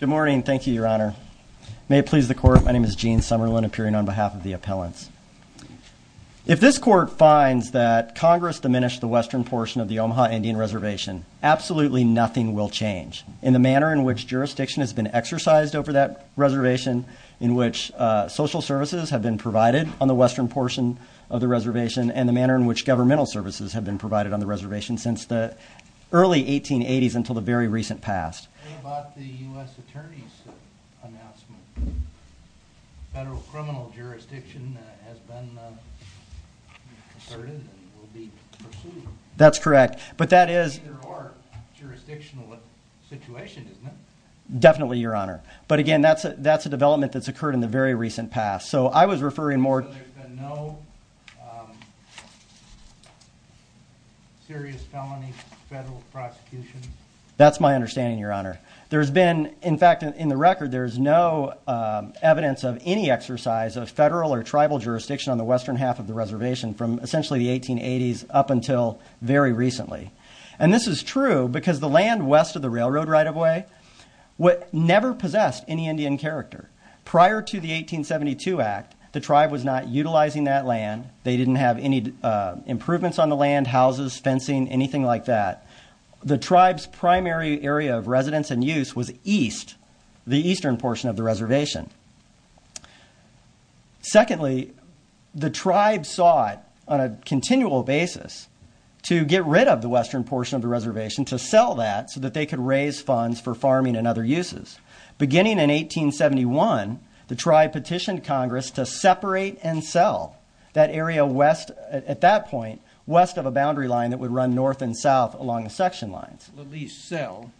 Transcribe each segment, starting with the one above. Good morning. Thank you, Your Honor. May it please the Court, my name is Gene Summerlin, appearing on behalf of the appellants. If this Court finds that Congress diminished the western portion of the Omaha Indian Reservation, absolutely nothing will change in the manner in which jurisdiction has been exercised over that reservation, in which social services have been provided on the western portion of the reservation, and the manner in which governmental services have been provided on the reservation since the early 1880s until the very recent past. What about the U.S. Attorney's announcement that federal criminal jurisdiction has been asserted and will be pursued? That's correct, but that is... It's either or jurisdictional situation, isn't it? Definitely, Your Honor, but again, that's a development that's occurred in the very recent past, so I was referring more... So there's been no serious felony federal prosecution? That's my understanding, Your Honor. There's been, in fact, in the record, there's no evidence of any exercise of federal or tribal jurisdiction on the western half of the reservation from essentially the 1880s up until very recently. And this is true because the land west of the railroad right-of-way never possessed any Indian character. Prior to the 1872 Act, the tribe was not utilizing that land. They didn't have any improvements on the land, houses, fencing, anything like that. The tribe's primary area of residence and use was east, the eastern portion of the reservation. Secondly, the tribe sought on a continual basis to get rid of the western portion of the reservation, to sell that so that they could raise funds for farming and other uses. Beginning in 1871, the tribe petitioned Congress to separate and sell that area west... Well, at least sell.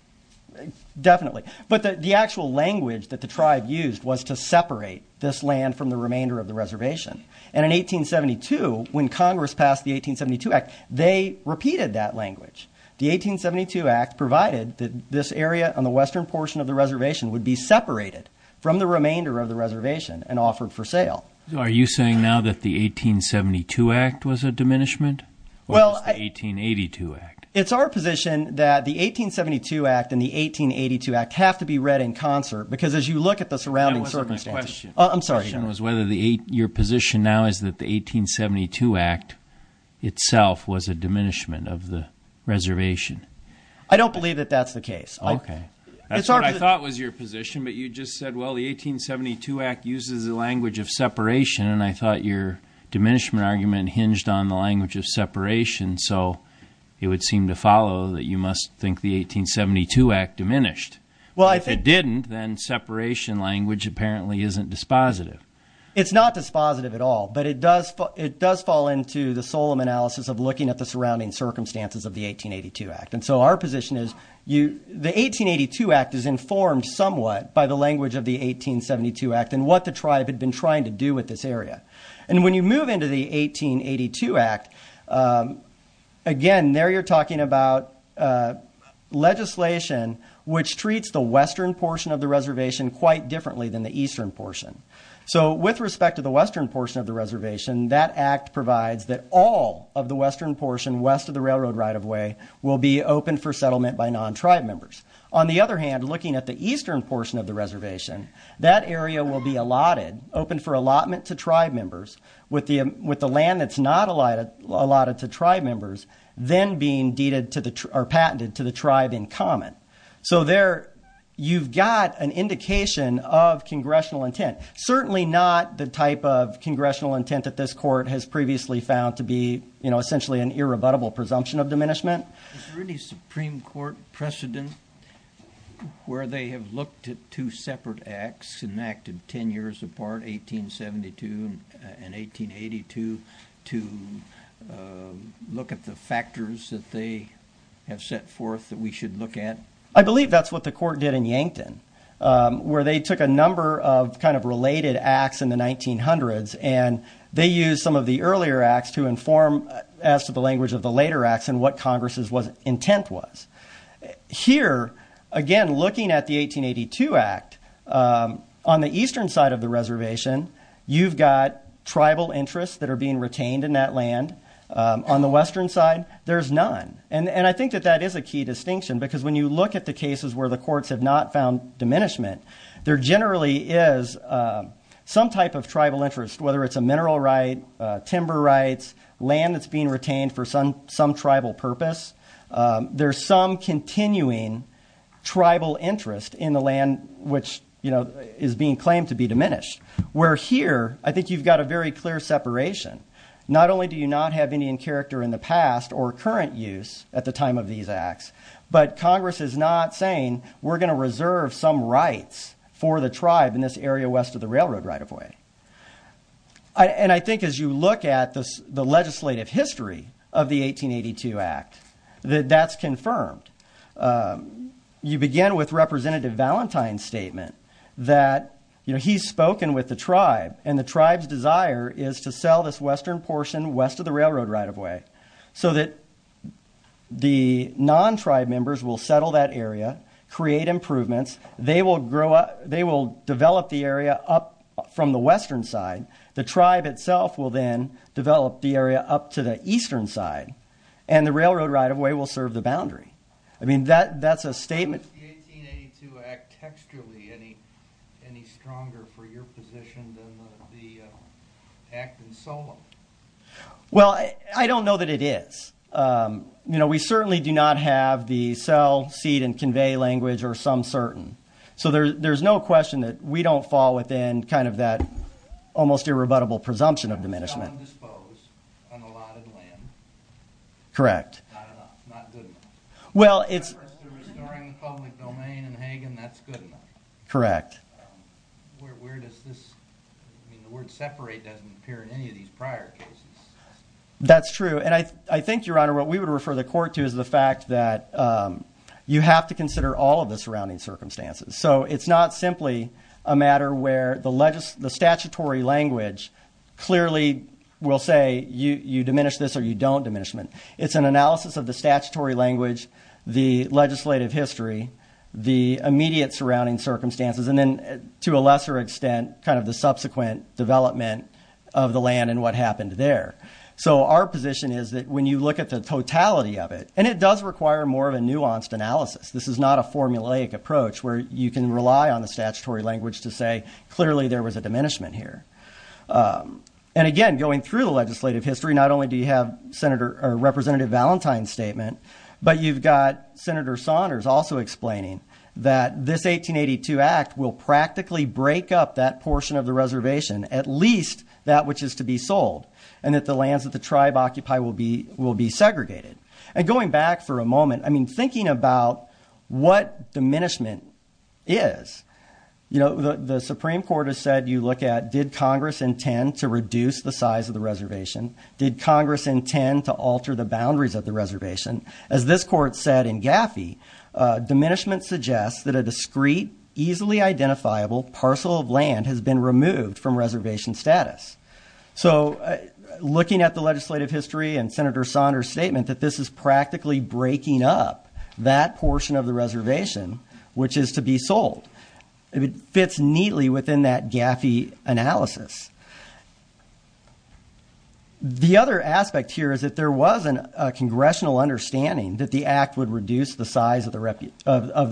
Definitely. But the actual language that the tribe used was to separate this land from the remainder of the reservation. And in 1872, when Congress passed the 1872 Act, they repeated that language. The 1872 Act provided that this area on the western portion of the reservation would be separated from the remainder of the reservation and offered for sale. Are you saying now that the 1872 Act was a diminishment or just the 1882 Act? It's our position that the 1872 Act and the 1882 Act have to be read in concert because as you look at the surrounding circumstances... That wasn't my question. I'm sorry. Your question was whether your position now is that the 1872 Act itself was a diminishment of the reservation. I don't believe that that's the case. Okay. That's what I thought was your position, but you just said, well, the 1872 Act uses the language of separation, and I thought your diminishment argument hinged on the language of separation, so it would seem to follow that you must think the 1872 Act diminished. Well, I think... If it didn't, then separation language apparently isn't dispositive. It's not dispositive at all, but it does fall into the Solemn Analysis of looking at the surrounding circumstances of the 1882 Act. And so our position is the 1882 Act is informed somewhat by the language of the 1872 Act and what the tribe had been trying to do with this area. And when you move into the 1882 Act, again, there you're talking about legislation which treats the western portion of the reservation quite differently than the eastern portion. So with respect to the western portion of the reservation, that Act provides that all of the western portion west of the railroad right-of-way will be open for settlement by non-tribe members. On the other hand, looking at the eastern portion of the reservation, that area will be allotted, open for allotment to tribe members with the land that's not allotted to tribe members then being deeded or patented to the tribe in common. So there you've got an indication of congressional intent. Certainly not the type of congressional intent that this court has previously found to be, you know, essentially an irrebuttable presumption of diminishment. Is there any Supreme Court precedent where they have looked at two separate Acts enacted 10 years apart, 1872 and 1882, to look at the factors that they have set forth that we should look at? I believe that's what the court did in Yankton, where they took a number of kind of related Acts in the 1900s, and they used some of the earlier Acts to inform as to the language of the later Acts and what Congress's intent was. Here, again, looking at the 1882 Act, on the eastern side of the reservation, you've got tribal interests that are being retained in that land. On the western side, there's none. And I think that that is a key distinction, because when you look at the cases where the courts have not found diminishment, there generally is some type of tribal interest, whether it's a mineral right, timber rights, land that's being retained for some tribal purpose. There's some continuing tribal interest in the land which, you know, is being claimed to be diminished. Where here, I think you've got a very clear separation. Not only do you not have Indian character in the past or current use at the time of these Acts, but Congress is not saying we're going to reserve some rights for the tribe in this area west of the railroad right-of-way. And I think as you look at the legislative history of the 1882 Act, that that's confirmed. You begin with Representative Valentine's statement that, you know, he's spoken with the tribe, and the tribe's desire is to sell this western portion west of the railroad right-of-way so that the non-tribe members will settle that area, create improvements. They will develop the area up from the western side. The tribe itself will then develop the area up to the eastern side, and the railroad right-of-way will serve the boundary. I mean, that's a statement... Is the 1882 Act textually any stronger for your position than the Act in SOMA? Well, I don't know that it is. You know, we certainly do not have the sell, cede, and convey language or some certain. So there's no question that we don't fall within kind of that almost irrebuttable presumption of diminishment. It's not indisposed on allotted land. Correct. Not enough, not good enough. Well, it's... As far as the restoring the public domain in Hagen, that's good enough. Correct. Where does this... I mean, the word separate doesn't appear in any of these prior cases. That's true. And I think, Your Honor, what we would refer the court to is the fact that you have to consider all of the surrounding circumstances. So it's not simply a matter where the statutory language clearly will say you diminish this or you don't diminish it. It's an analysis of the statutory language, the legislative history, the immediate surrounding circumstances, and then, to a lesser extent, kind of the subsequent development of the land and what happened there. So our position is that when you look at the totality of it, and it does require more of a nuanced analysis. This is not a formulaic approach where you can rely on the statutory language to say clearly there was a diminishment here. And, again, going through the legislative history, not only do you have Representative Valentine's statement, but you've got Senator Saunders also explaining that this 1882 act will practically break up that portion of the reservation, at least that which is to be sold, and that the lands that the tribe occupy will be segregated. And going back for a moment, I mean, thinking about what diminishment is, you know, the Supreme Court has said you look at did Congress intend to reduce the size of the reservation? Did Congress intend to alter the boundaries of the reservation? As this court said in Gaffey, diminishment suggests that a discreet, easily identifiable parcel of land has been removed from reservation status. So looking at the legislative history and Senator Saunders' statement that this is practically breaking up that portion of the reservation, which is to be sold, it fits neatly within that Gaffey analysis. The other aspect here is that there was a congressional understanding that the act would reduce the size of the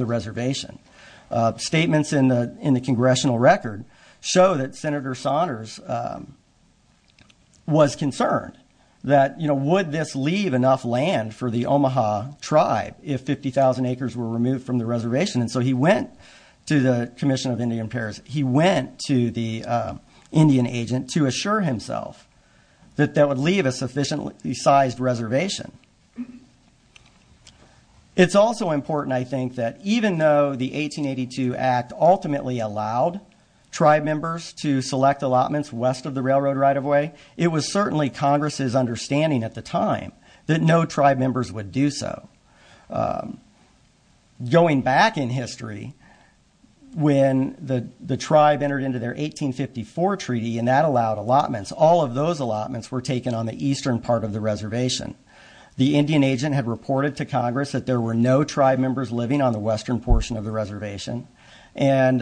reservation. Statements in the congressional record show that Senator Saunders was concerned that, you know, would this leave enough land for the Omaha tribe if 50,000 acres were removed from the reservation? And so he went to the Commission of Indian Affairs. He went to the Indian agent to assure himself that that would leave a sufficiently sized reservation. It's also important, I think, that even though the 1882 act ultimately allowed tribe members to select allotments west of the railroad right-of-way, it was certainly Congress's understanding at the time that no tribe members would do so. Going back in history, when the tribe entered into their 1854 treaty and that allowed allotments, all of those allotments were taken on the eastern part of the reservation. The Indian agent had reported to Congress that there were no tribe members living on the western portion of the reservation. And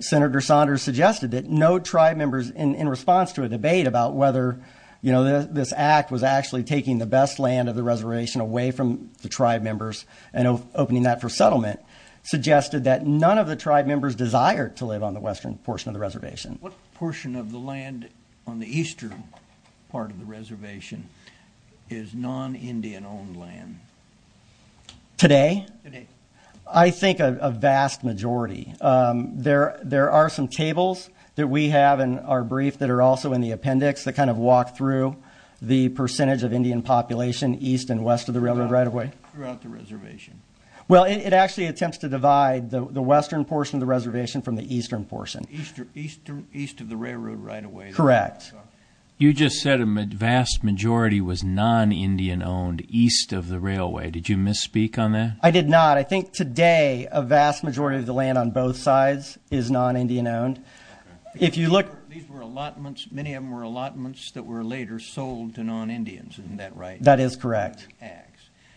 Senator Saunders suggested that no tribe members, in response to a debate about whether, you know, this act was actually taking the best land of the reservation away from the tribe members and opening that for settlement, suggested that none of the tribe members desired to live on the western portion of the reservation. What portion of the land on the eastern part of the reservation is non-Indian owned land? Today? Today. I think a vast majority. There are some tables that we have in our brief that are also in the appendix that kind of walk through the percentage of Indian population east and west of the railroad right-of-way. Throughout the reservation. Well, it actually attempts to divide the western portion of the reservation from the eastern portion. East of the railroad right-of-way. Correct. You just said a vast majority was non-Indian owned east of the railway. Did you misspeak on that? I did not. I think today a vast majority of the land on both sides is non-Indian owned. These were allotments. Many of them were allotments that were later sold to non-Indians. Isn't that right? That is correct.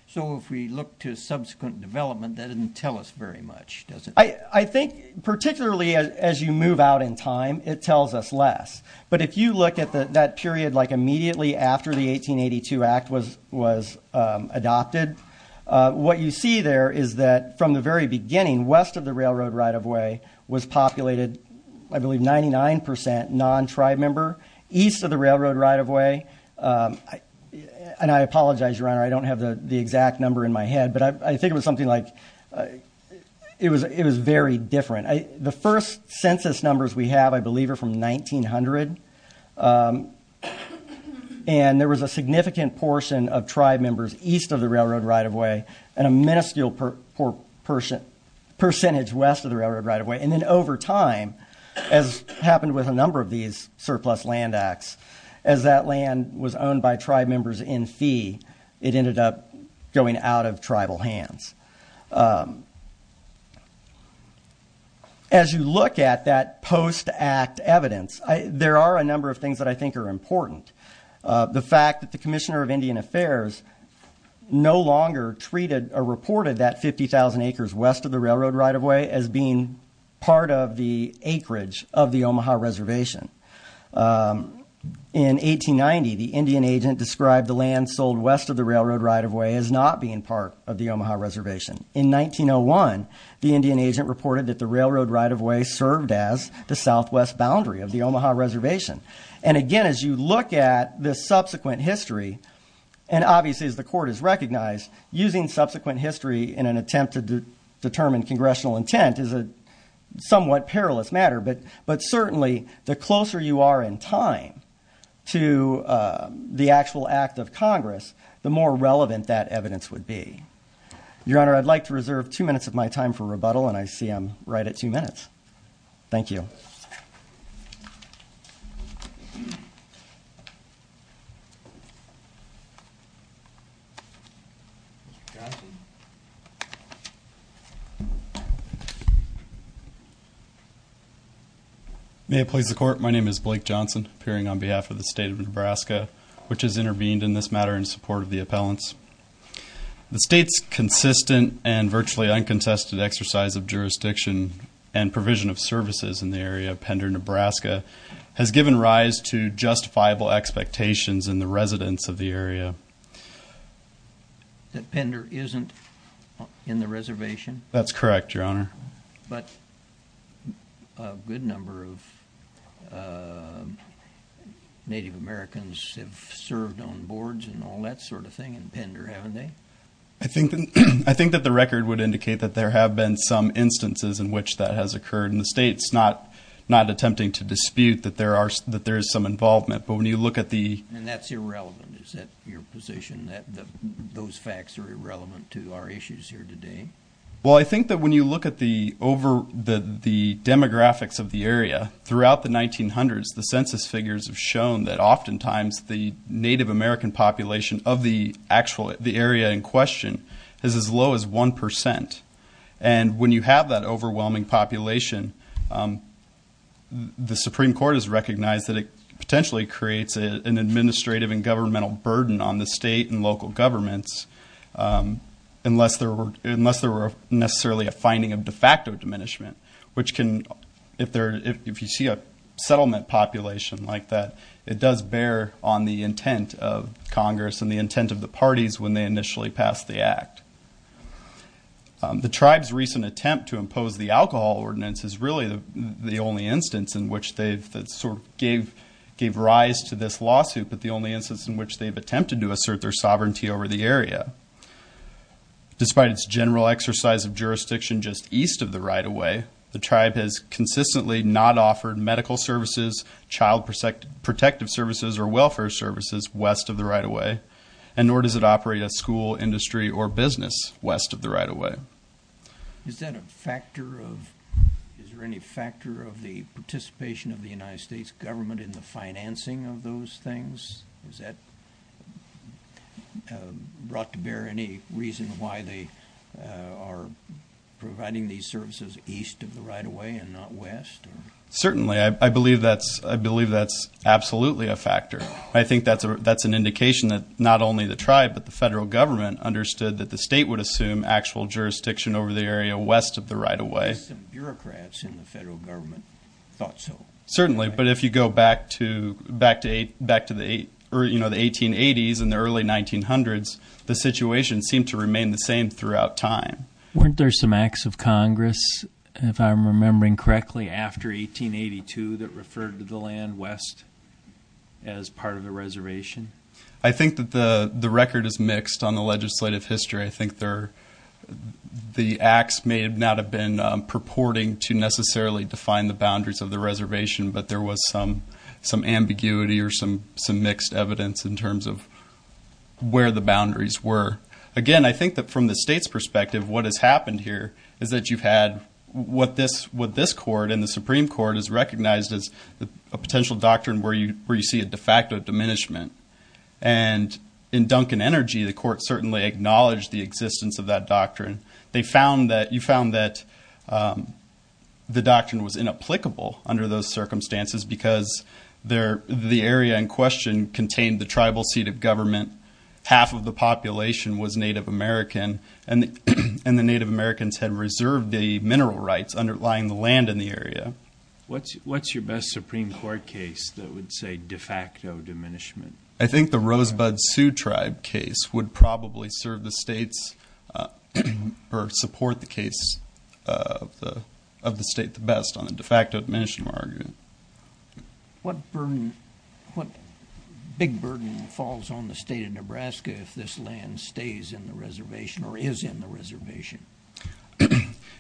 So if we look to subsequent development, that doesn't tell us very much, does it? I think particularly as you move out in time, it tells us less. But if you look at that period immediately after the 1882 Act was adopted, what you see there is that from the very beginning, west of the railroad right-of-way, was populated, I believe, 99% non-tribe member. East of the railroad right-of-way, and I apologize, Your Honor, I don't have the exact number in my head, but I think it was something like, it was very different. The first census numbers we have, I believe, are from 1900. And there was a significant portion of tribe members east of the railroad right-of-way and a minuscule percentage west of the railroad right-of-way. And then over time, as happened with a number of these surplus land acts, as that land was owned by tribe members in fee, it ended up going out of tribal hands. As you look at that post-Act evidence, there are a number of things that I think are important. The fact that the Commissioner of Indian Affairs no longer treated or reported that 50,000 acres west of the railroad right-of-way as being part of the acreage of the Omaha Reservation. In 1890, the Indian agent described the land sold west of the railroad right-of-way as not being part of the Omaha Reservation. In 1901, the Indian agent reported that the railroad right-of-way served as the southwest boundary of the Omaha Reservation. And again, as you look at this subsequent history, and obviously as the Court has recognized, using subsequent history in an attempt to determine Congressional intent is a somewhat perilous matter. But certainly, the closer you are in time to the actual act of Congress, the more relevant that evidence would be. Your Honor, I'd like to reserve two minutes of my time for rebuttal, and I see I'm right at two minutes. Thank you. May it please the Court, my name is Blake Johnson, appearing on behalf of the State of Nebraska, which has intervened in this matter in support of the appellants. The State's consistent and virtually uncontested exercise of jurisdiction and provision of services in the area of Pender, Nebraska, has given rise to justifiable expectations in the residents of the area. That Pender isn't in the reservation? That's correct, Your Honor. But a good number of Native Americans have served on boards and all that sort of thing in Pender, haven't they? I think that the record would indicate that there have been some instances in which that has occurred. And the State's not attempting to dispute that there is some involvement. But when you look at the... And that's irrelevant. Is that your position, that those facts are irrelevant to our issues here today? Well, I think that when you look at the demographics of the area, throughout the 1900s, the census figures have shown that oftentimes the Native American population of the area in question is as low as 1%. And when you have that overwhelming population, the Supreme Court has recognized that it potentially creates an administrative and governmental burden on the State and local governments, unless there were necessarily a finding of de facto diminishment, which can, if you see a settlement population like that, it does bear on the intent of Congress and the intent of the parties when they initially pass the act. The tribe's recent attempt to impose the alcohol ordinance is really the only instance in which they've sort of gave rise to this lawsuit, but the only instance in which they've attempted to assert their sovereignty over the area. Despite its general exercise of jurisdiction just east of the right-of-way, the tribe has consistently not offered medical services, child protective services, or welfare services west of the right-of-way, and nor does it operate a school, industry, or business west of the right-of-way. Is there any factor of the participation of the United States government in the financing of those things? Is that brought to bear any reason why they are providing these services east of the right-of-way and not west? Certainly. I believe that's absolutely a factor. I think that's an indication that not only the tribe but the federal government understood that the State would assume actual jurisdiction over the area west of the right-of-way. Some bureaucrats in the federal government thought so. Certainly. But if you go back to the 1880s and the early 1900s, the situation seemed to remain the same throughout time. Weren't there some acts of Congress, if I'm remembering correctly, after 1882 that referred to the land west as part of the reservation? I think that the record is mixed on the legislative history. I think the acts may not have been purporting to necessarily define the reservation, but there was some ambiguity or some mixed evidence in terms of where the boundaries were. Again, I think that from the State's perspective, what has happened here is that you've had what this court and the Supreme Court has recognized as a potential doctrine where you see a de facto diminishment. And in Duncan Energy, the court certainly acknowledged the existence of that doctrine. You found that the doctrine was inapplicable under those circumstances because the area in question contained the tribal seat of government, half of the population was Native American, and the Native Americans had reserved the mineral rights underlying the land in the area. What's your best Supreme Court case that would say de facto diminishment? I think the Rosebud Sioux Tribe case would probably serve the State's or support the case of the State the best on the de facto diminishment argument. What big burden falls on the State of Nebraska if this land stays in the reservation or is in the reservation?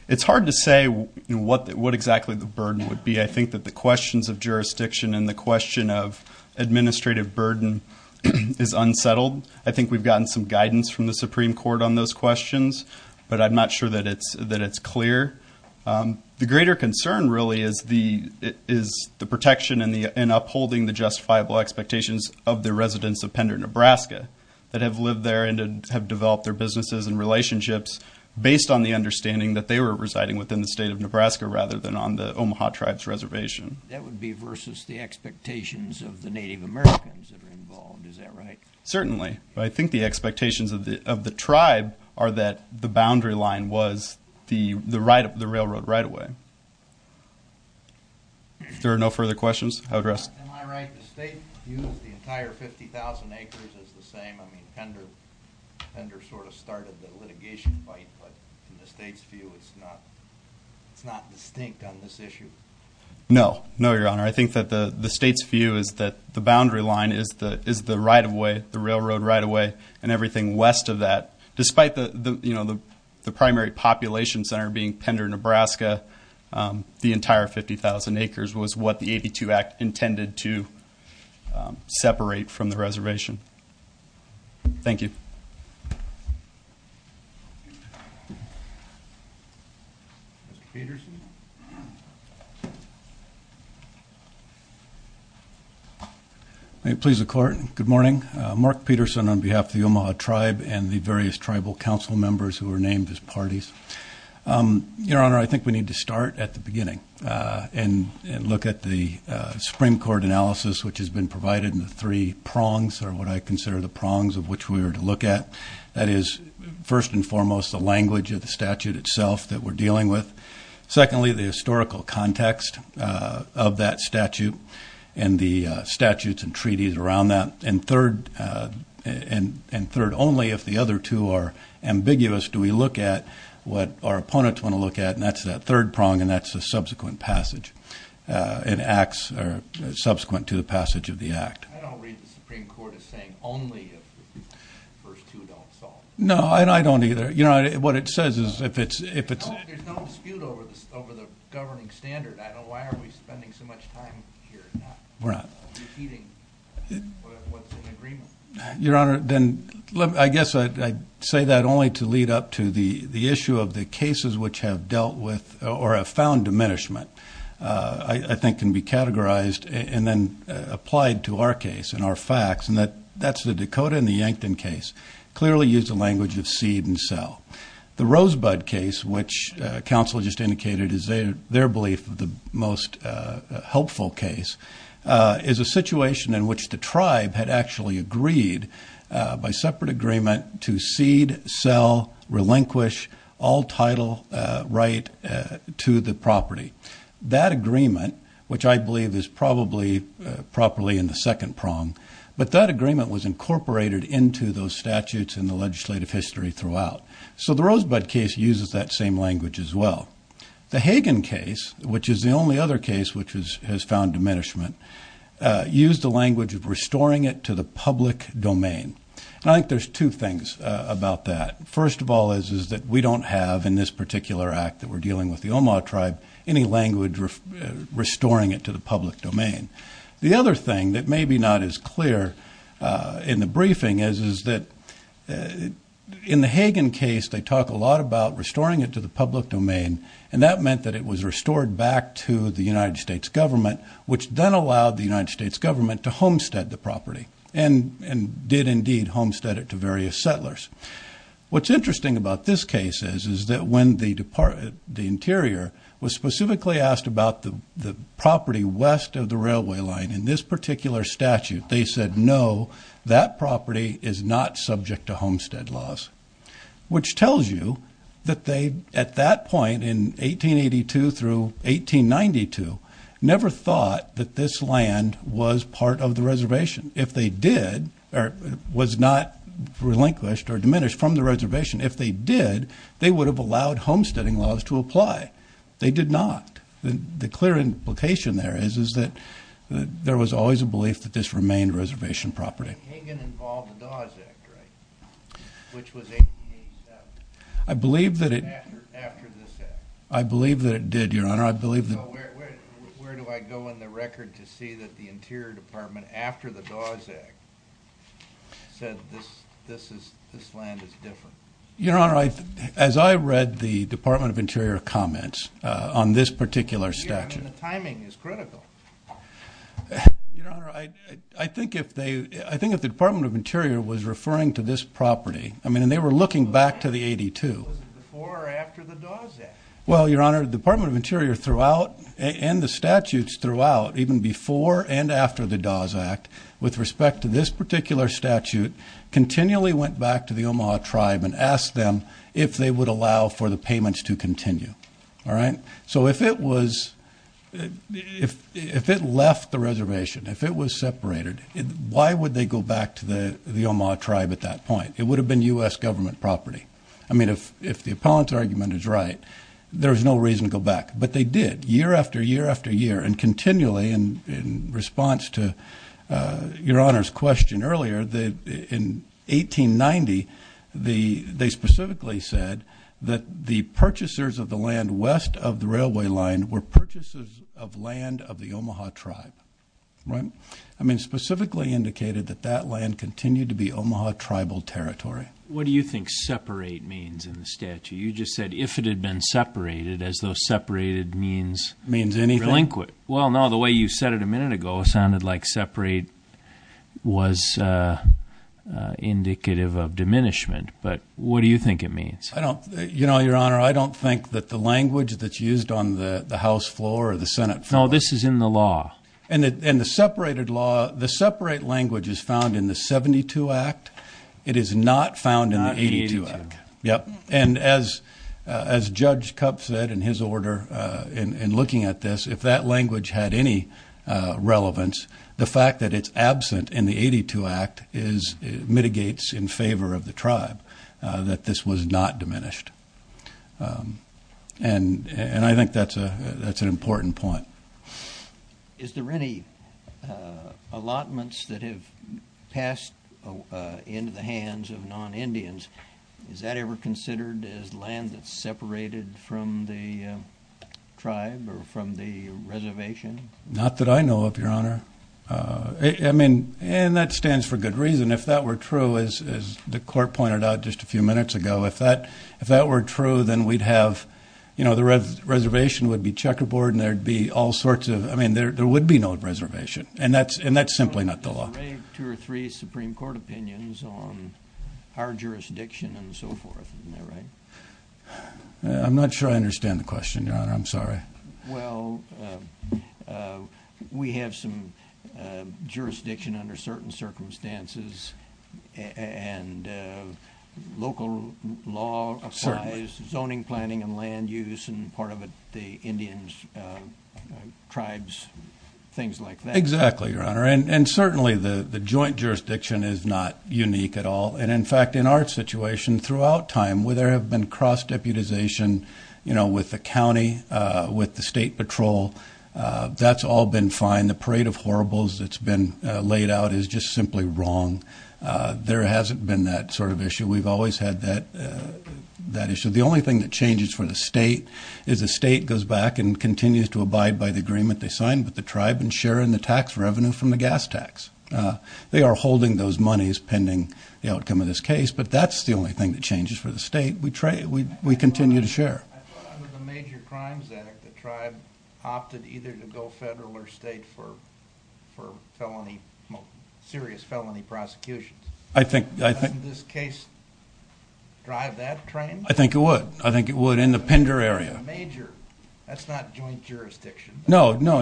It's hard to say what exactly the burden would be. I think that the questions of jurisdiction and the question of administrative burden is unsettled. I think we've gotten some guidance from the Supreme Court on those questions, but I'm not sure that it's clear. The greater concern really is the protection and upholding the justifiable expectations of the residents of Pender, Nebraska that have lived there and have developed their businesses and relationships based on the understanding that they were residing within the State of Nebraska rather than on the Omaha Tribe's reservation. That would be versus the expectations of the Native Americans that are involved, is that right? Certainly, but I think the expectations of the Tribe are that the boundary line was the railroad right-of-way. If there are no further questions, I'll address them. Am I right, the State views the entire 50,000 acres as the same? I mean, Pender sort of started the litigation fight, but in the State's view it's not distinct on this issue? No, no, Your Honor. I think that the State's view is that the boundary line is the railroad right-of-way and everything west of that. Despite the primary population center being Pender, Nebraska, the entire 50,000 acres was what the 82 Act intended to separate from the reservation. Thank you. Mr. Peterson? Thank you. May it please the Court, good morning. Mark Peterson on behalf of the Omaha Tribe and the various Tribal Council members who were named as parties. Your Honor, I think we need to start at the beginning and look at the Supreme Court analysis, which has been provided in the three prongs, or what I consider the prongs of which we are to look at. That is, first and foremost, the language of the statute itself that we're dealing with. Secondly, the historical context of that statute and the statutes and treaties around that. And third, only if the other two are ambiguous do we look at what our opponents want to look at, and that's that third prong, and that's the subsequent passage, subsequent to the passage of the Act. I don't read the Supreme Court as saying only if the first two don't solve it. No, I don't either. Your Honor, what it says is if it's... There's no dispute over the governing standard. Why are we spending so much time here defeating what's in agreement? Your Honor, then I guess I'd say that only to lead up to the issue of the cases which have dealt with or have found diminishment, I think can be categorized and then applied to our case and our facts, and that's the Dakota and the Yankton case, clearly used the language of seed and sell. The Rosebud case, which counsel just indicated is their belief of the most helpful case, is a situation in which the tribe had actually agreed by separate agreement to seed, sell, relinquish all title right to the property. That agreement, which I believe is probably properly in the second prong, but that agreement was incorporated into those statutes in the legislative history throughout. So the Rosebud case uses that same language as well. The Hagen case, which is the only other case which has found diminishment, used the language of restoring it to the public domain. And I think there's two things about that. First of all is that we don't have in this particular act that we're dealing with the Omaha tribe any language restoring it to the public domain. The other thing that may be not as clear in the briefing is that in the Hagen case, they talk a lot about restoring it to the public domain, and that meant that it was restored back to the United States government, which then allowed the United States government to homestead the property and did indeed homestead it to various settlers. What's interesting about this case is that when the Interior was specifically asked about the property west of the railway line in this particular statute, they said, no, that property is not subject to homestead laws, which tells you that they, at that point, in 1882 through 1892, never thought that this land was part of the reservation. If they did, or was not relinquished or diminished from the reservation, if they did, they would have allowed homesteading laws to apply. They did not. The clear implication there is that there was always a belief that this remained reservation property. Hagen involved the Dawes Act, right? Which was 1887. I believe that it... After this Act. I believe that it did, Your Honor. So where do I go in the record to see that the Interior Department, after the Dawes Act, said this land is different? Your Honor, as I read the Department of Interior comments on this particular statute... The timing is critical. Your Honor, I think if they... I think if the Department of Interior was referring to this property, I mean, and they were looking back to the 82... Was it before or after the Dawes Act? Well, Your Honor, the Department of Interior throughout, and the statutes throughout, even before and after the Dawes Act, with respect to this particular statute, continually went back to the Omaha tribe and asked them if they would allow for the payments to continue. All right? So if it was... If it left the reservation, if it was separated, why would they go back to the Omaha tribe at that point? It would have been U.S. government property. I mean, if the opponent's argument is right, there's no reason to go back. But they did, year after year after year, and continually, in response to Your Honor's question earlier, in 1890, they specifically said that the purchasers of the land west of the railway line were purchasers of land of the Omaha tribe. Right? I mean, specifically indicated that that land continued to be Omaha tribal territory. What do you think separate means in the statute? You just said, if it had been separated, as though separated means... Means anything? Relinquent. Well, no, the way you said it a minute ago sounded like separate was indicative of diminishment. But what do you think it means? I don't... You know, Your Honor, I don't think that the language that's used on the House floor or the Senate floor... No, this is in the law. And the separated law... The separate language is found in the 72 Act. It is not found in the 82 Act. Not in the 82 Act. Yep. And as Judge Kup said in his order, in looking at this, if that language had any relevance, the fact that it's absent in the 82 Act mitigates in favor of the tribe that this was not diminished. And I think that's an important point. Is there any allotments that have passed into the hands of non-Indians? Is that ever considered as land that's separated from the tribe or from the reservation? Not that I know of, Your Honor. I mean... And that stands for good reason. If that were true, as the Court pointed out just a few minutes ago, if that were true, then we'd have... You know, the reservation would be checkerboard and there'd be all sorts of... I mean, there would be no reservation. And that's simply not the law. There's already two or three Supreme Court opinions on our jurisdiction and so forth. Isn't that right? I'm not sure I understand the question, Your Honor. I'm sorry. Well, we have some jurisdiction under certain circumstances and local law applies... Certainly. ...zoning, planning, and land use and part of it the Indians' tribes, things like that. Exactly, Your Honor. And certainly the joint jurisdiction is not unique at all. And in fact, in our situation throughout time where there have been cross-deputization, you know, with the county, with the state patrol, that's all been fine. The parade of horribles that's been laid out is just simply wrong. There hasn't been that sort of issue. We've always had that issue. The only thing that changes for the state is the state goes back and continues to abide by the agreement they signed with the tribe and share in the tax revenue from the gas tax. They are holding those monies pending the outcome of this case, but that's the only thing that changes for the state. We continue to share. Under the Major Crimes Act, the tribe opted either to go federal or state for felony, serious felony prosecutions. I think... Doesn't this case drive that trend? I think it would. I think it would in the Pender area. Major, that's not joint jurisdiction. No, no.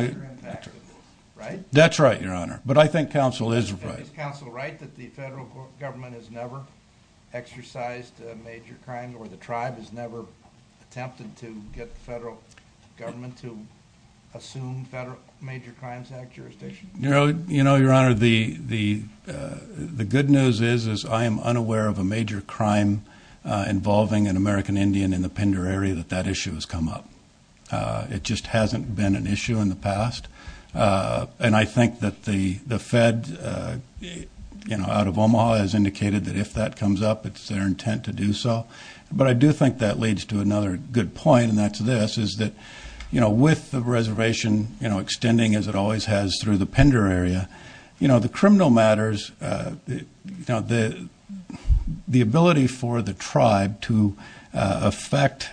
Right? That's right, Your Honor. But I think counsel is right. Is counsel right that the federal government has never exercised a major crime or the tribe has never attempted to get the federal government to assume federal Major Crimes Act jurisdiction? You know, Your Honor, the good news is I am unaware of a major crime involving an American Indian in the Pender area that that issue has come up. It just hasn't been an issue in the past. And I think that the Fed, you know, the Department of Omaha has indicated that if that comes up, it's their intent to do so. But I do think that leads to another good point, and that's this, is that, you know, with the reservation, you know, extending as it always has through the Pender area, you know, the criminal matters, you know, the ability for the tribe to affect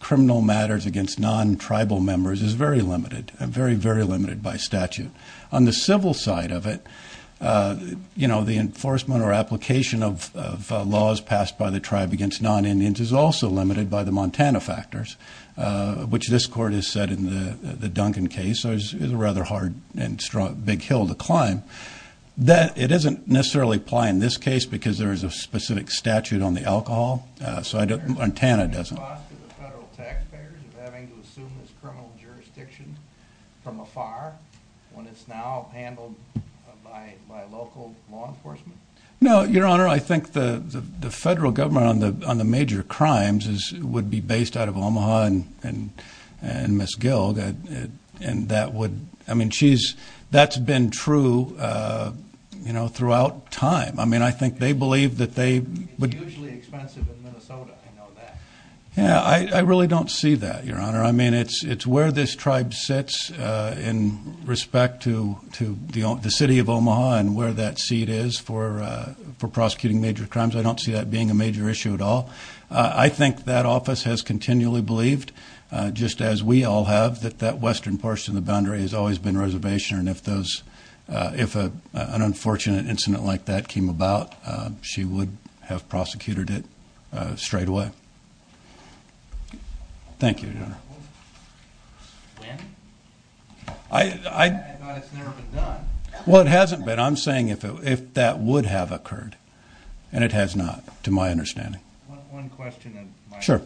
criminal matters against non-tribal members is very limited, very, very limited by statute. On the civil side of it, you know, the enforcement or application of laws passed by the tribe against non-Indians is also limited by the Montana factors, which this Court has said in the Duncan case is a rather hard and strong, big hill to climb. It doesn't necessarily apply in this case because there is a specific statute on the alcohol, so Montana doesn't. The cost to the federal taxpayers of having to assume this criminal jurisdiction from afar when it's now handled by local law enforcement? No, Your Honor, I think the federal government on the major crimes would be based out of Omaha and Miss Gill, and that would... I mean, that's been true, you know, throughout time. I mean, I think they believe that they... It's hugely expensive in Minnesota, I know that. Yeah, I really don't see that, Your Honor. I mean, it's where this tribe sits in respect to the city of Omaha and where that seat is for prosecuting major crimes. I don't see that being a major issue at all. I think that office has continually believed, just as we all have, that that western portion of the boundary has always been reservation, and if an unfortunate incident like that came about, she would have prosecuted it straightaway. Thank you, Your Honor. When? I thought it's never been done. Well, it hasn't been. I'm saying if that would have occurred, and it has not, to my understanding. One question, Mike. Sure.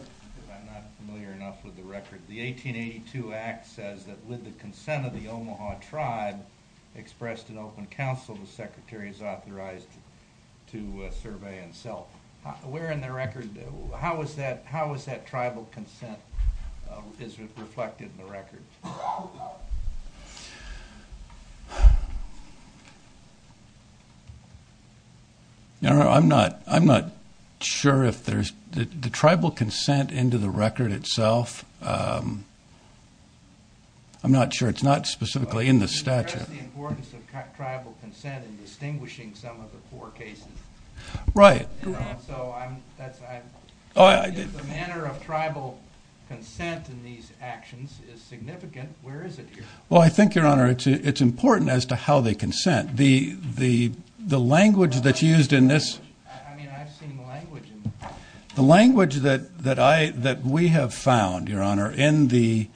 I'm not familiar enough with the record. The 1882 Act says that with the consent of the Omaha tribe expressed in open counsel, the Secretary is authorized to survey and sell. Where in the record? How is that tribal consent reflected in the record? Your Honor, I'm not sure if there's... The tribal consent into the record itself, I'm not sure. It's not specifically in the statute. You addressed the importance of tribal consent in distinguishing some of the four cases. Right. So the manner of tribal consent in these actions is significant. Where is it here? Well, I think, Your Honor, it's important as to how they consent. The language that's used in this... I mean, I've seen the language. The language that we have found, Your Honor, in the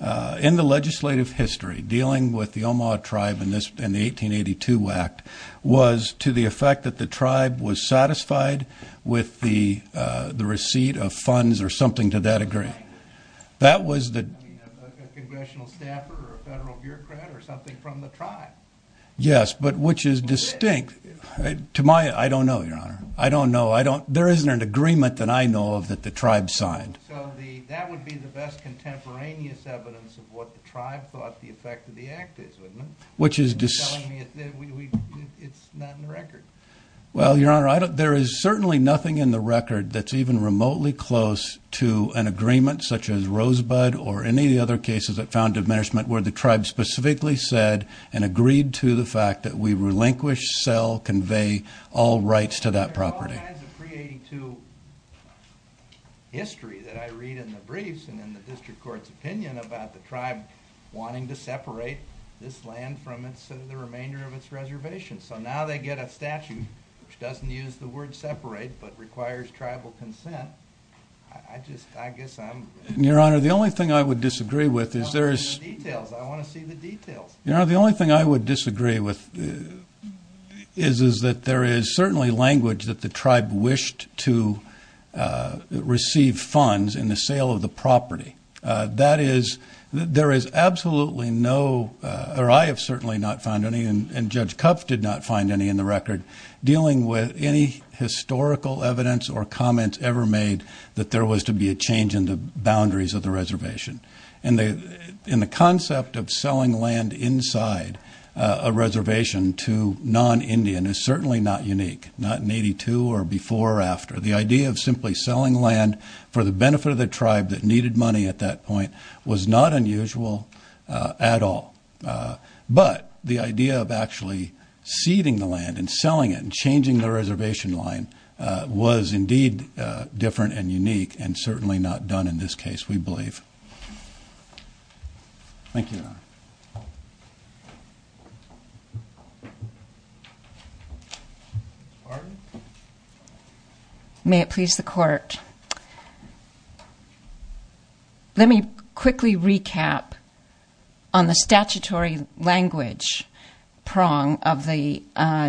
legislative history dealing with the Omaha tribe in the 1882 Act was to the effect that the tribe was satisfied with the receipt of funds or something to that degree. That was the... I mean, a congressional staffer or a federal bureaucrat or something from the tribe. Yes, but which is distinct. To my... I don't know, Your Honor. I don't know. There isn't an agreement that I know of that the tribe signed. So that would be the best contemporaneous evidence of what the tribe thought the effect of the Act is, wouldn't it? Which is... You're telling me it's not in the record. Well, Your Honor, there is certainly nothing in the record that's even remotely close to an agreement, such as Rosebud or any of the other cases that found diminishment where the tribe specifically said and agreed to the fact that we relinquish, sell, convey all rights to that property. There are all kinds of pre-1882 history that I read in the briefs and in the district court's opinion about the tribe wanting to separate this land from the remainder of its reservation. So now they get a statute which doesn't use the word separate but requires tribal consent. I just... I guess I'm... Your Honor, the only thing I would disagree with is there is... I want to see the details. I want to see the details. Your Honor, the only thing I would disagree with is that there is certainly language that the tribe wished to receive funds in the sale of the property. That is, there is absolutely no... or I have certainly not found any, and Judge Kupf did not find any in the record, dealing with any historical evidence or comments ever made that there was to be a change in the boundaries of the reservation. And the concept of selling land inside a reservation to non-Indian is certainly not unique, not in 1882 or before or after. The idea of simply selling land for the benefit of the tribe that needed money at that point was not unusual at all. But the idea of actually ceding the land and selling it and changing the reservation line was indeed different and unique and certainly not done in this case, we believe. Thank you, Your Honor. Pardon? May it please the Court. Let me quickly recap on the statutory language prong of the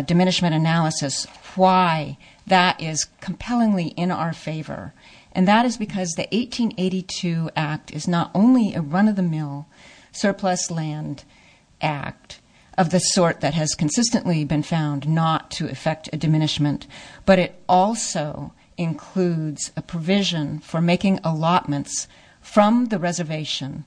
diminishment analysis why that is compellingly in our favor, and that is because the 1882 Act is not only a run-of-the-mill surplus land act of the sort that has consistently been found not to affect a diminishment, but it also includes a provision for making allotments from the reservation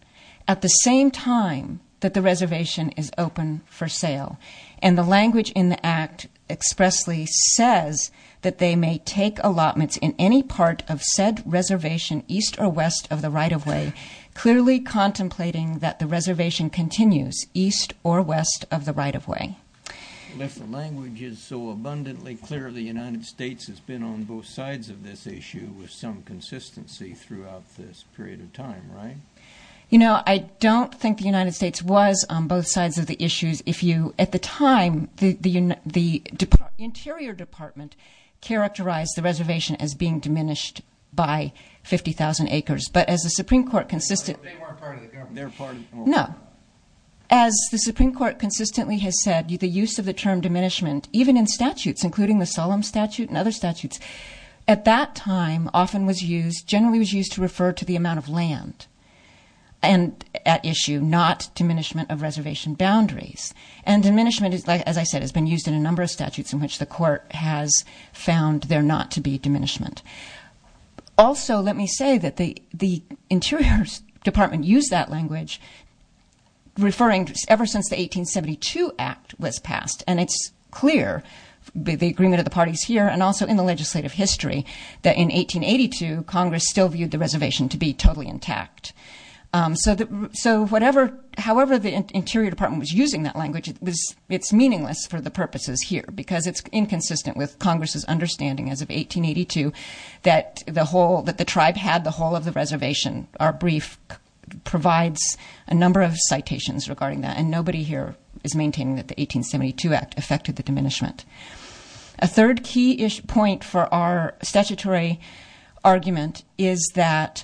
at the same time that the reservation is open for sale. And the language in the Act expressly says that they may take allotments in any part of said reservation east or west of the right-of-way, clearly contemplating that the reservation continues east or west of the right-of-way. If the language is so abundantly clear, the United States has been on both sides of this issue with some consistency throughout this period of time, right? You know, I don't think the United States was on both sides of the issues. At the time, the Interior Department characterized the reservation as being diminished by 50,000 acres, but as the Supreme Court consistently... They weren't part of the government. No. As the Supreme Court consistently has said, the use of the term diminishment, even in statutes, including the Solemn Statute and other statutes, at that time often was used... generally was used to refer to the amount of land at issue, not diminishment of reservation boundaries. And diminishment, as I said, has been used in a number of statutes in which the Court has found there not to be diminishment. Also, let me say that the Interior Department used that language, referring... And it's clear, the agreement of the parties here and also in the legislative history, that in 1882, Congress still viewed the reservation to be totally intact. So whatever... However the Interior Department was using that language, it's meaningless for the purposes here because it's inconsistent with Congress's understanding as of 1882 that the whole... that the tribe had the whole of the reservation. Our brief provides a number of citations regarding that, and nobody here is maintaining that the 1872 Act affected the diminishment. A third key point for our statutory argument is that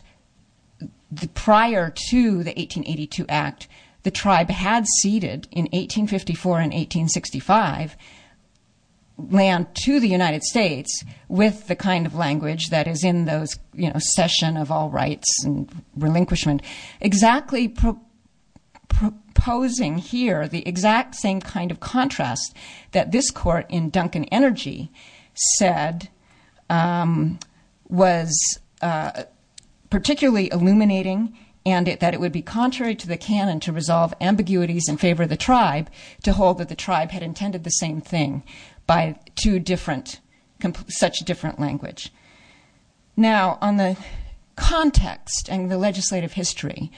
prior to the 1882 Act, the tribe had ceded in 1854 and 1865 land to the United States with the kind of language that is in those... you know, cession of all rights and relinquishment, exactly proposing here the exact same kind of contrast that this court in Duncan Energy said was particularly illuminating and that it would be contrary to the canon to resolve ambiguities in favor of the tribe to hold that the tribe had intended the same thing by two different... such different language. Now, on the context and the legislative history,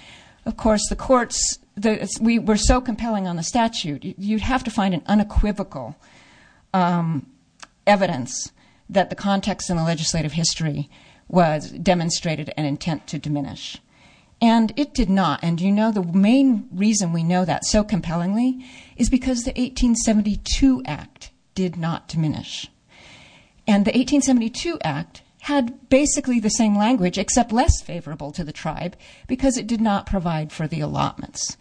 of course, the courts... we were so compelling on the statute, you'd have to find an unequivocal evidence that the context and the legislative history demonstrated an intent to diminish. And it did not, and you know, the main reason we know that so compellingly is because the 1872 Act did not diminish. And the 1872 Act had basically the same language except less favorable to the tribe because it did not provide for the allotments.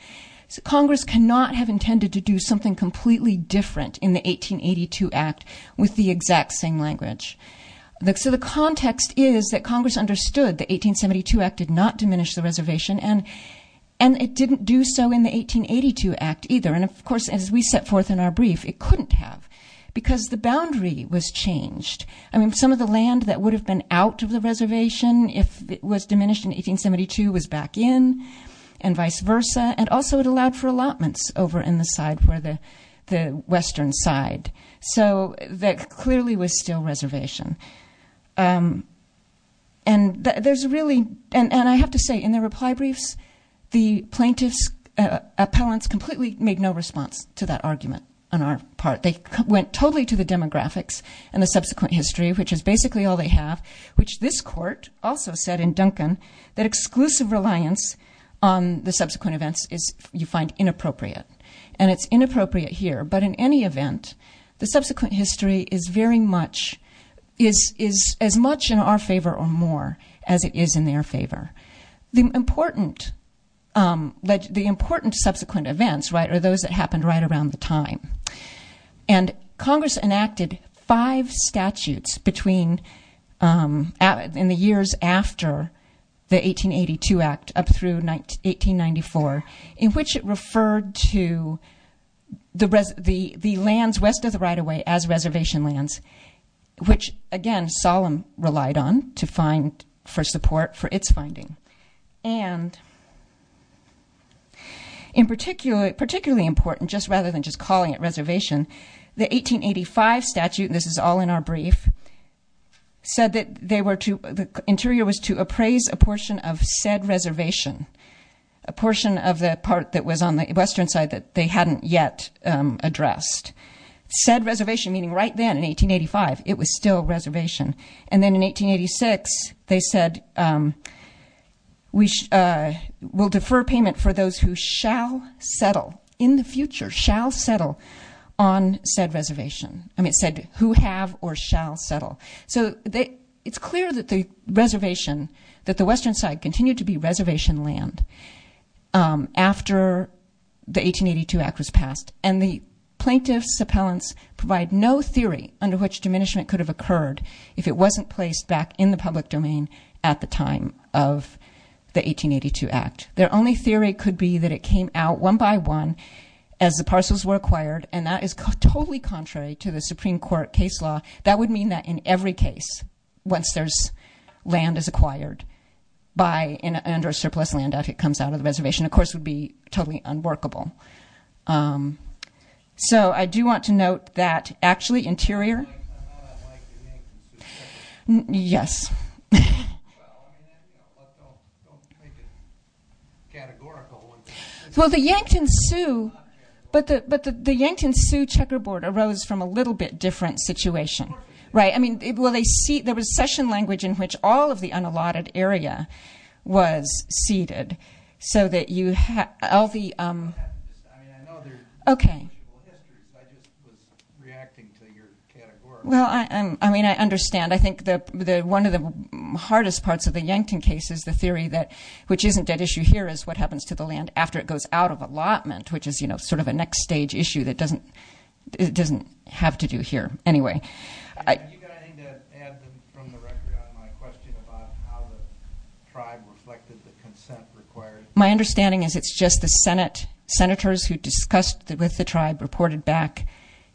Congress cannot have intended to do something completely different in the 1882 Act with the exact same language. So the context is that Congress understood the 1872 Act did not diminish the reservation and it didn't do so in the 1882 Act either. And of course, as we set forth in our brief, it couldn't have because the boundary was changed. I mean, some of the land that would have been out of the reservation if it was diminished in 1872 was back in and vice versa. And also it allowed for allotments over in the side where the western side. So that clearly was still reservation. And there's really... and I have to say, in the reply briefs, the plaintiffs' appellants completely made no response to that argument on our part. They went totally to the demographics and the subsequent history, which is basically all they have, which this court also said in Duncan that exclusive reliance on the subsequent events is, you find, inappropriate. And it's inappropriate here, but in any event, the subsequent history is very much... is as much in our favor or more as it is in their favor. The important subsequent events are those that happened right around the time. And Congress enacted five statutes in the years after the 1882 Act up through 1894 in which it referred to the lands west of the right-of-way as reservation lands, which, again, Solemn relied on to find for support for its finding. And particularly important, just rather than just calling it reservation, the 1885 statute, and this is all in our brief, said that they were to... the interior was to appraise a portion of said reservation, a portion of the part that was on the western side that they hadn't yet addressed. Said reservation meaning right then, in 1885, it was still reservation. And then in 1886, they said, we will defer payment for those who shall settle, in the future, shall settle on said reservation. I mean, it said who have or shall settle. So it's clear that the reservation, that the western side continued to be reservation land after the 1882 Act was passed. And the plaintiff's appellants provide no theory under which diminishment could have occurred if it wasn't placed back in the public domain at the time of the 1882 Act. Their only theory could be that it came out one by one as the parcels were acquired, and that is totally contrary to the Supreme Court case law. That would mean that in every case, once there's land is acquired, by an under-surplus land that comes out of the reservation, of course, would be totally unworkable. So I do want to note that, actually, interior... Yes. Well, the Yankton Sioux... But the Yankton Sioux checkerboard arose from a little bit different situation. Right, I mean, there was session language in which all of the unallotted area was ceded, so that you had all the... Okay. Well, I mean, I understand. I think one of the hardest parts of the Yankton case is the theory that which isn't at issue here is what happens to the land after it goes out of allotment, which is, you know, sort of a next-stage issue that doesn't have to do here. Anyway... My understanding is it's just the Senate senators who discussed with the tribe reported back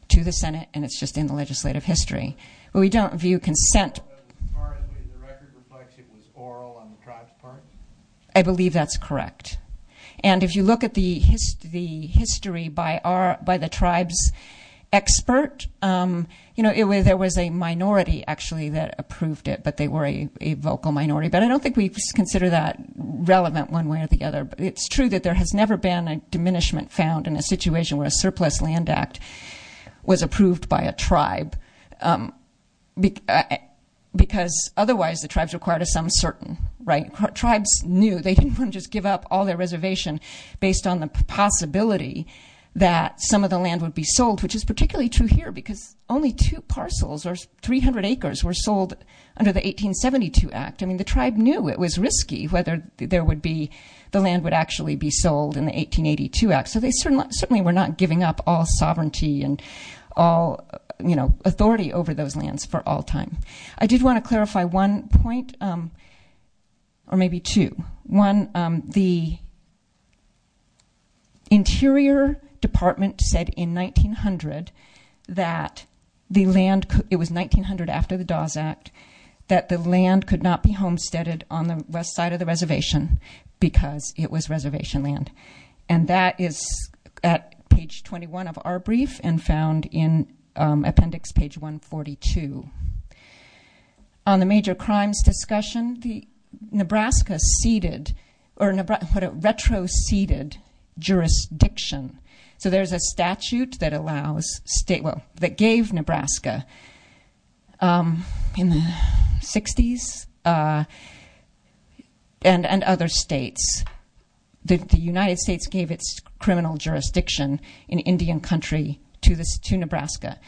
to the Senate, and it's just in the legislative history. We don't view consent... I believe that's correct. And if you look at the history by the tribe's expert, you know, there was a minority, actually, that approved it, but they were a vocal minority. But I don't think we consider that relevant one way or the other. It's true that there has never been a diminishment found in a situation where a surplus land act was approved by a tribe, because otherwise the tribes required a sum certain, right? Tribes knew they didn't want to just give up all their reservation based on the possibility that some of the land would be sold, which is particularly true here, because only two parcels, or 300 acres, were sold under the 1872 Act. I mean, the tribe knew it was risky whether there would be... the land would actually be sold in the 1882 Act, so they certainly were not giving up all sovereignty and all, you know, authority over those lands for all time. I did want to clarify one point, or maybe two. One, the Interior Department said in 1900 that the land could... It was 1900 after the Dawes Act that the land could not be homesteaded on the west side of the reservation because it was reservation land. And that is at page 21 of our brief and found in appendix page 142. On the major crimes discussion, Nebraska ceded... or what it retroceded jurisdiction. So there's a statute that allows state... well, that gave Nebraska... in the 60s... and other states. The United States gave its criminal jurisdiction in Indian country to Nebraska.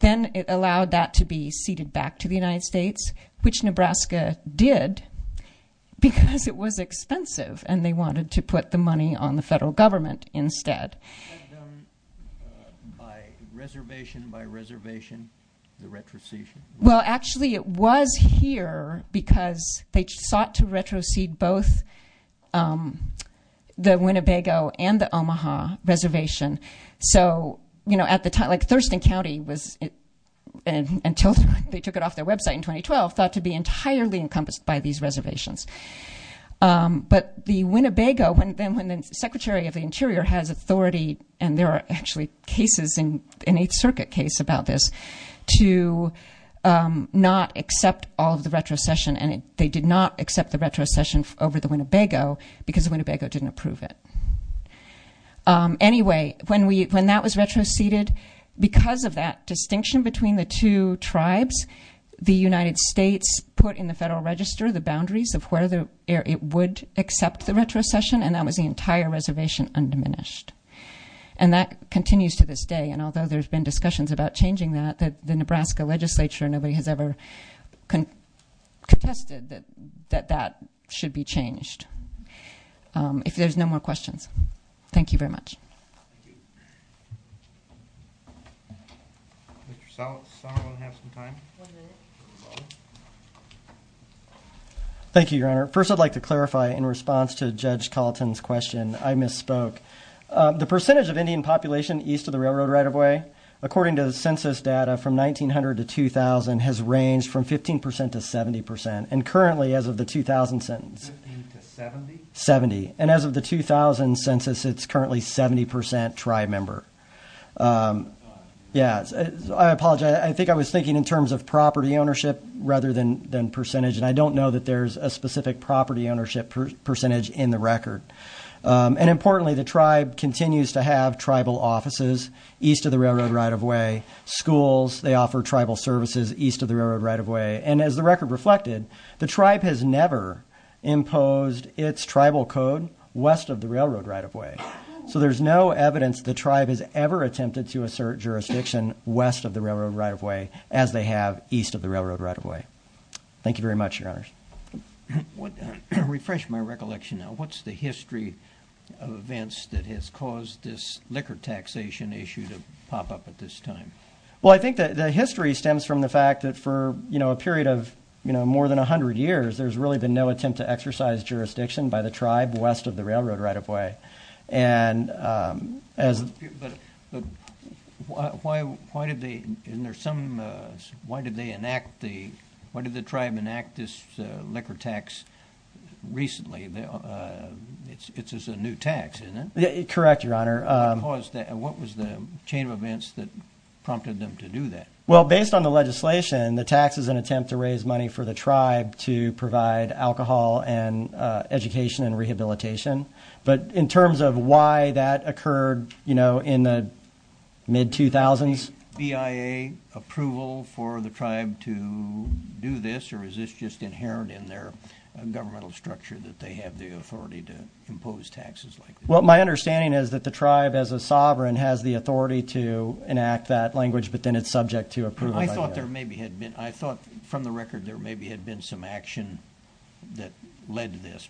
Then it allowed that to be ceded back to the United States, which Nebraska did because it was expensive and they wanted to put the money on the federal government instead. You said them by reservation, by reservation, the retroceding? Well, actually, it was here because they sought to retrocede both the Winnebago and the Omaha reservation. So, you know, at the time... like Thurston County was... until they took it off their website in 2012, thought to be entirely encompassed by these reservations. But the Winnebago, when the Secretary of the Interior has authority, and there are actually cases in 8th Circuit case about this, to not accept all of the retrocession, and they did not accept the retrocession over the Winnebago because the Winnebago didn't approve it. Anyway, when that was retroceded, because of that distinction between the two tribes, the United States put in the Federal Register the boundaries of where it would accept the retrocession, and that was the entire reservation undiminished. And that continues to this day, and although there's been discussions about changing that, the Nebraska legislature, nobody has ever contested that that should be changed. If there's no more questions. Thank you very much. Thank you. Mr. Sala, do you want to have some time? One minute. Thank you, Your Honor. First, I'd like to clarify, in response to Judge Colleton's question, I misspoke. The percentage of Indian population east of the railroad right-of-way, according to the census data from 1900 to 2000, has ranged from 15% to 70%, and currently, as of the 2000 census, 50% to 70%? 70%. And as of the 2000 census, it's currently 70% tribe member. I apologize. I think I was thinking in terms of property ownership rather than percentage, and I don't know that there's a specific property ownership percentage in the record. And importantly, the tribe continues to have tribal offices east of the railroad right-of-way. Schools, they offer tribal services east of the railroad right-of-way. And as the record reflected, the tribe has never imposed its tribal code west of the railroad right-of-way. So there's no evidence the tribe has ever attempted to assert jurisdiction west of the railroad right-of-way, as they have east of the railroad right-of-way. Thank you very much, Your Honors. Refresh my recollection now. What's the history of events that has caused this liquor taxation issue to pop up at this time? Well, I think the history stems from the fact that for, you know, a period of, you know, more than 100 years, there's really been no attempt to exercise jurisdiction by the tribe west of the railroad right-of-way. But why did the tribe enact this liquor tax recently? It's a new tax, isn't it? Correct, Your Honor. What was the chain of events that prompted them to do that? Well, based on the legislation, the tax is an attempt to raise money for the tribe to provide alcohol and education and rehabilitation. But in terms of why that occurred, you know, in the mid-2000s… Is there any BIA approval for the tribe to do this, or is this just inherent in their governmental structure, that they have the authority to impose taxes like this? Well, my understanding is that the tribe, as a sovereign, has the authority to enact that language, but then it's subject to approval. I thought there maybe had been. I thought from the record there maybe had been some action that led to this.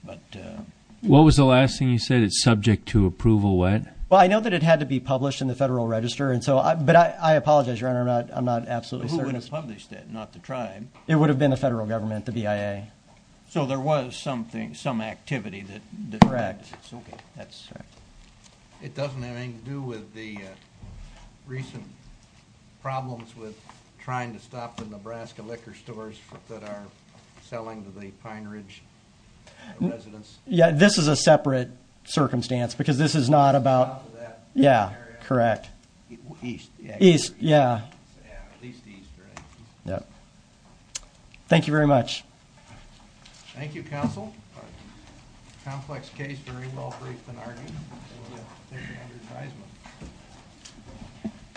What was the last thing you said? It's subject to approval when? Well, I know that it had to be published in the Federal Register, but I apologize, Your Honor, I'm not absolutely certain. Who would have published that, not the tribe? It would have been the federal government, the BIA. So there was some activity that… Correct. Okay. It doesn't have anything to do with the recent problems with trying to stop the Nebraska liquor stores that are selling to the Pine Ridge residents? Yeah, this is a separate circumstance because this is not about… It's not about that area? Yeah, correct. East, yeah. East, yeah. Yeah, at least east, right? Yeah. Thank you very much. Thank you, counsel. Complex case, very well briefed and argued, so we'll take it under advisement.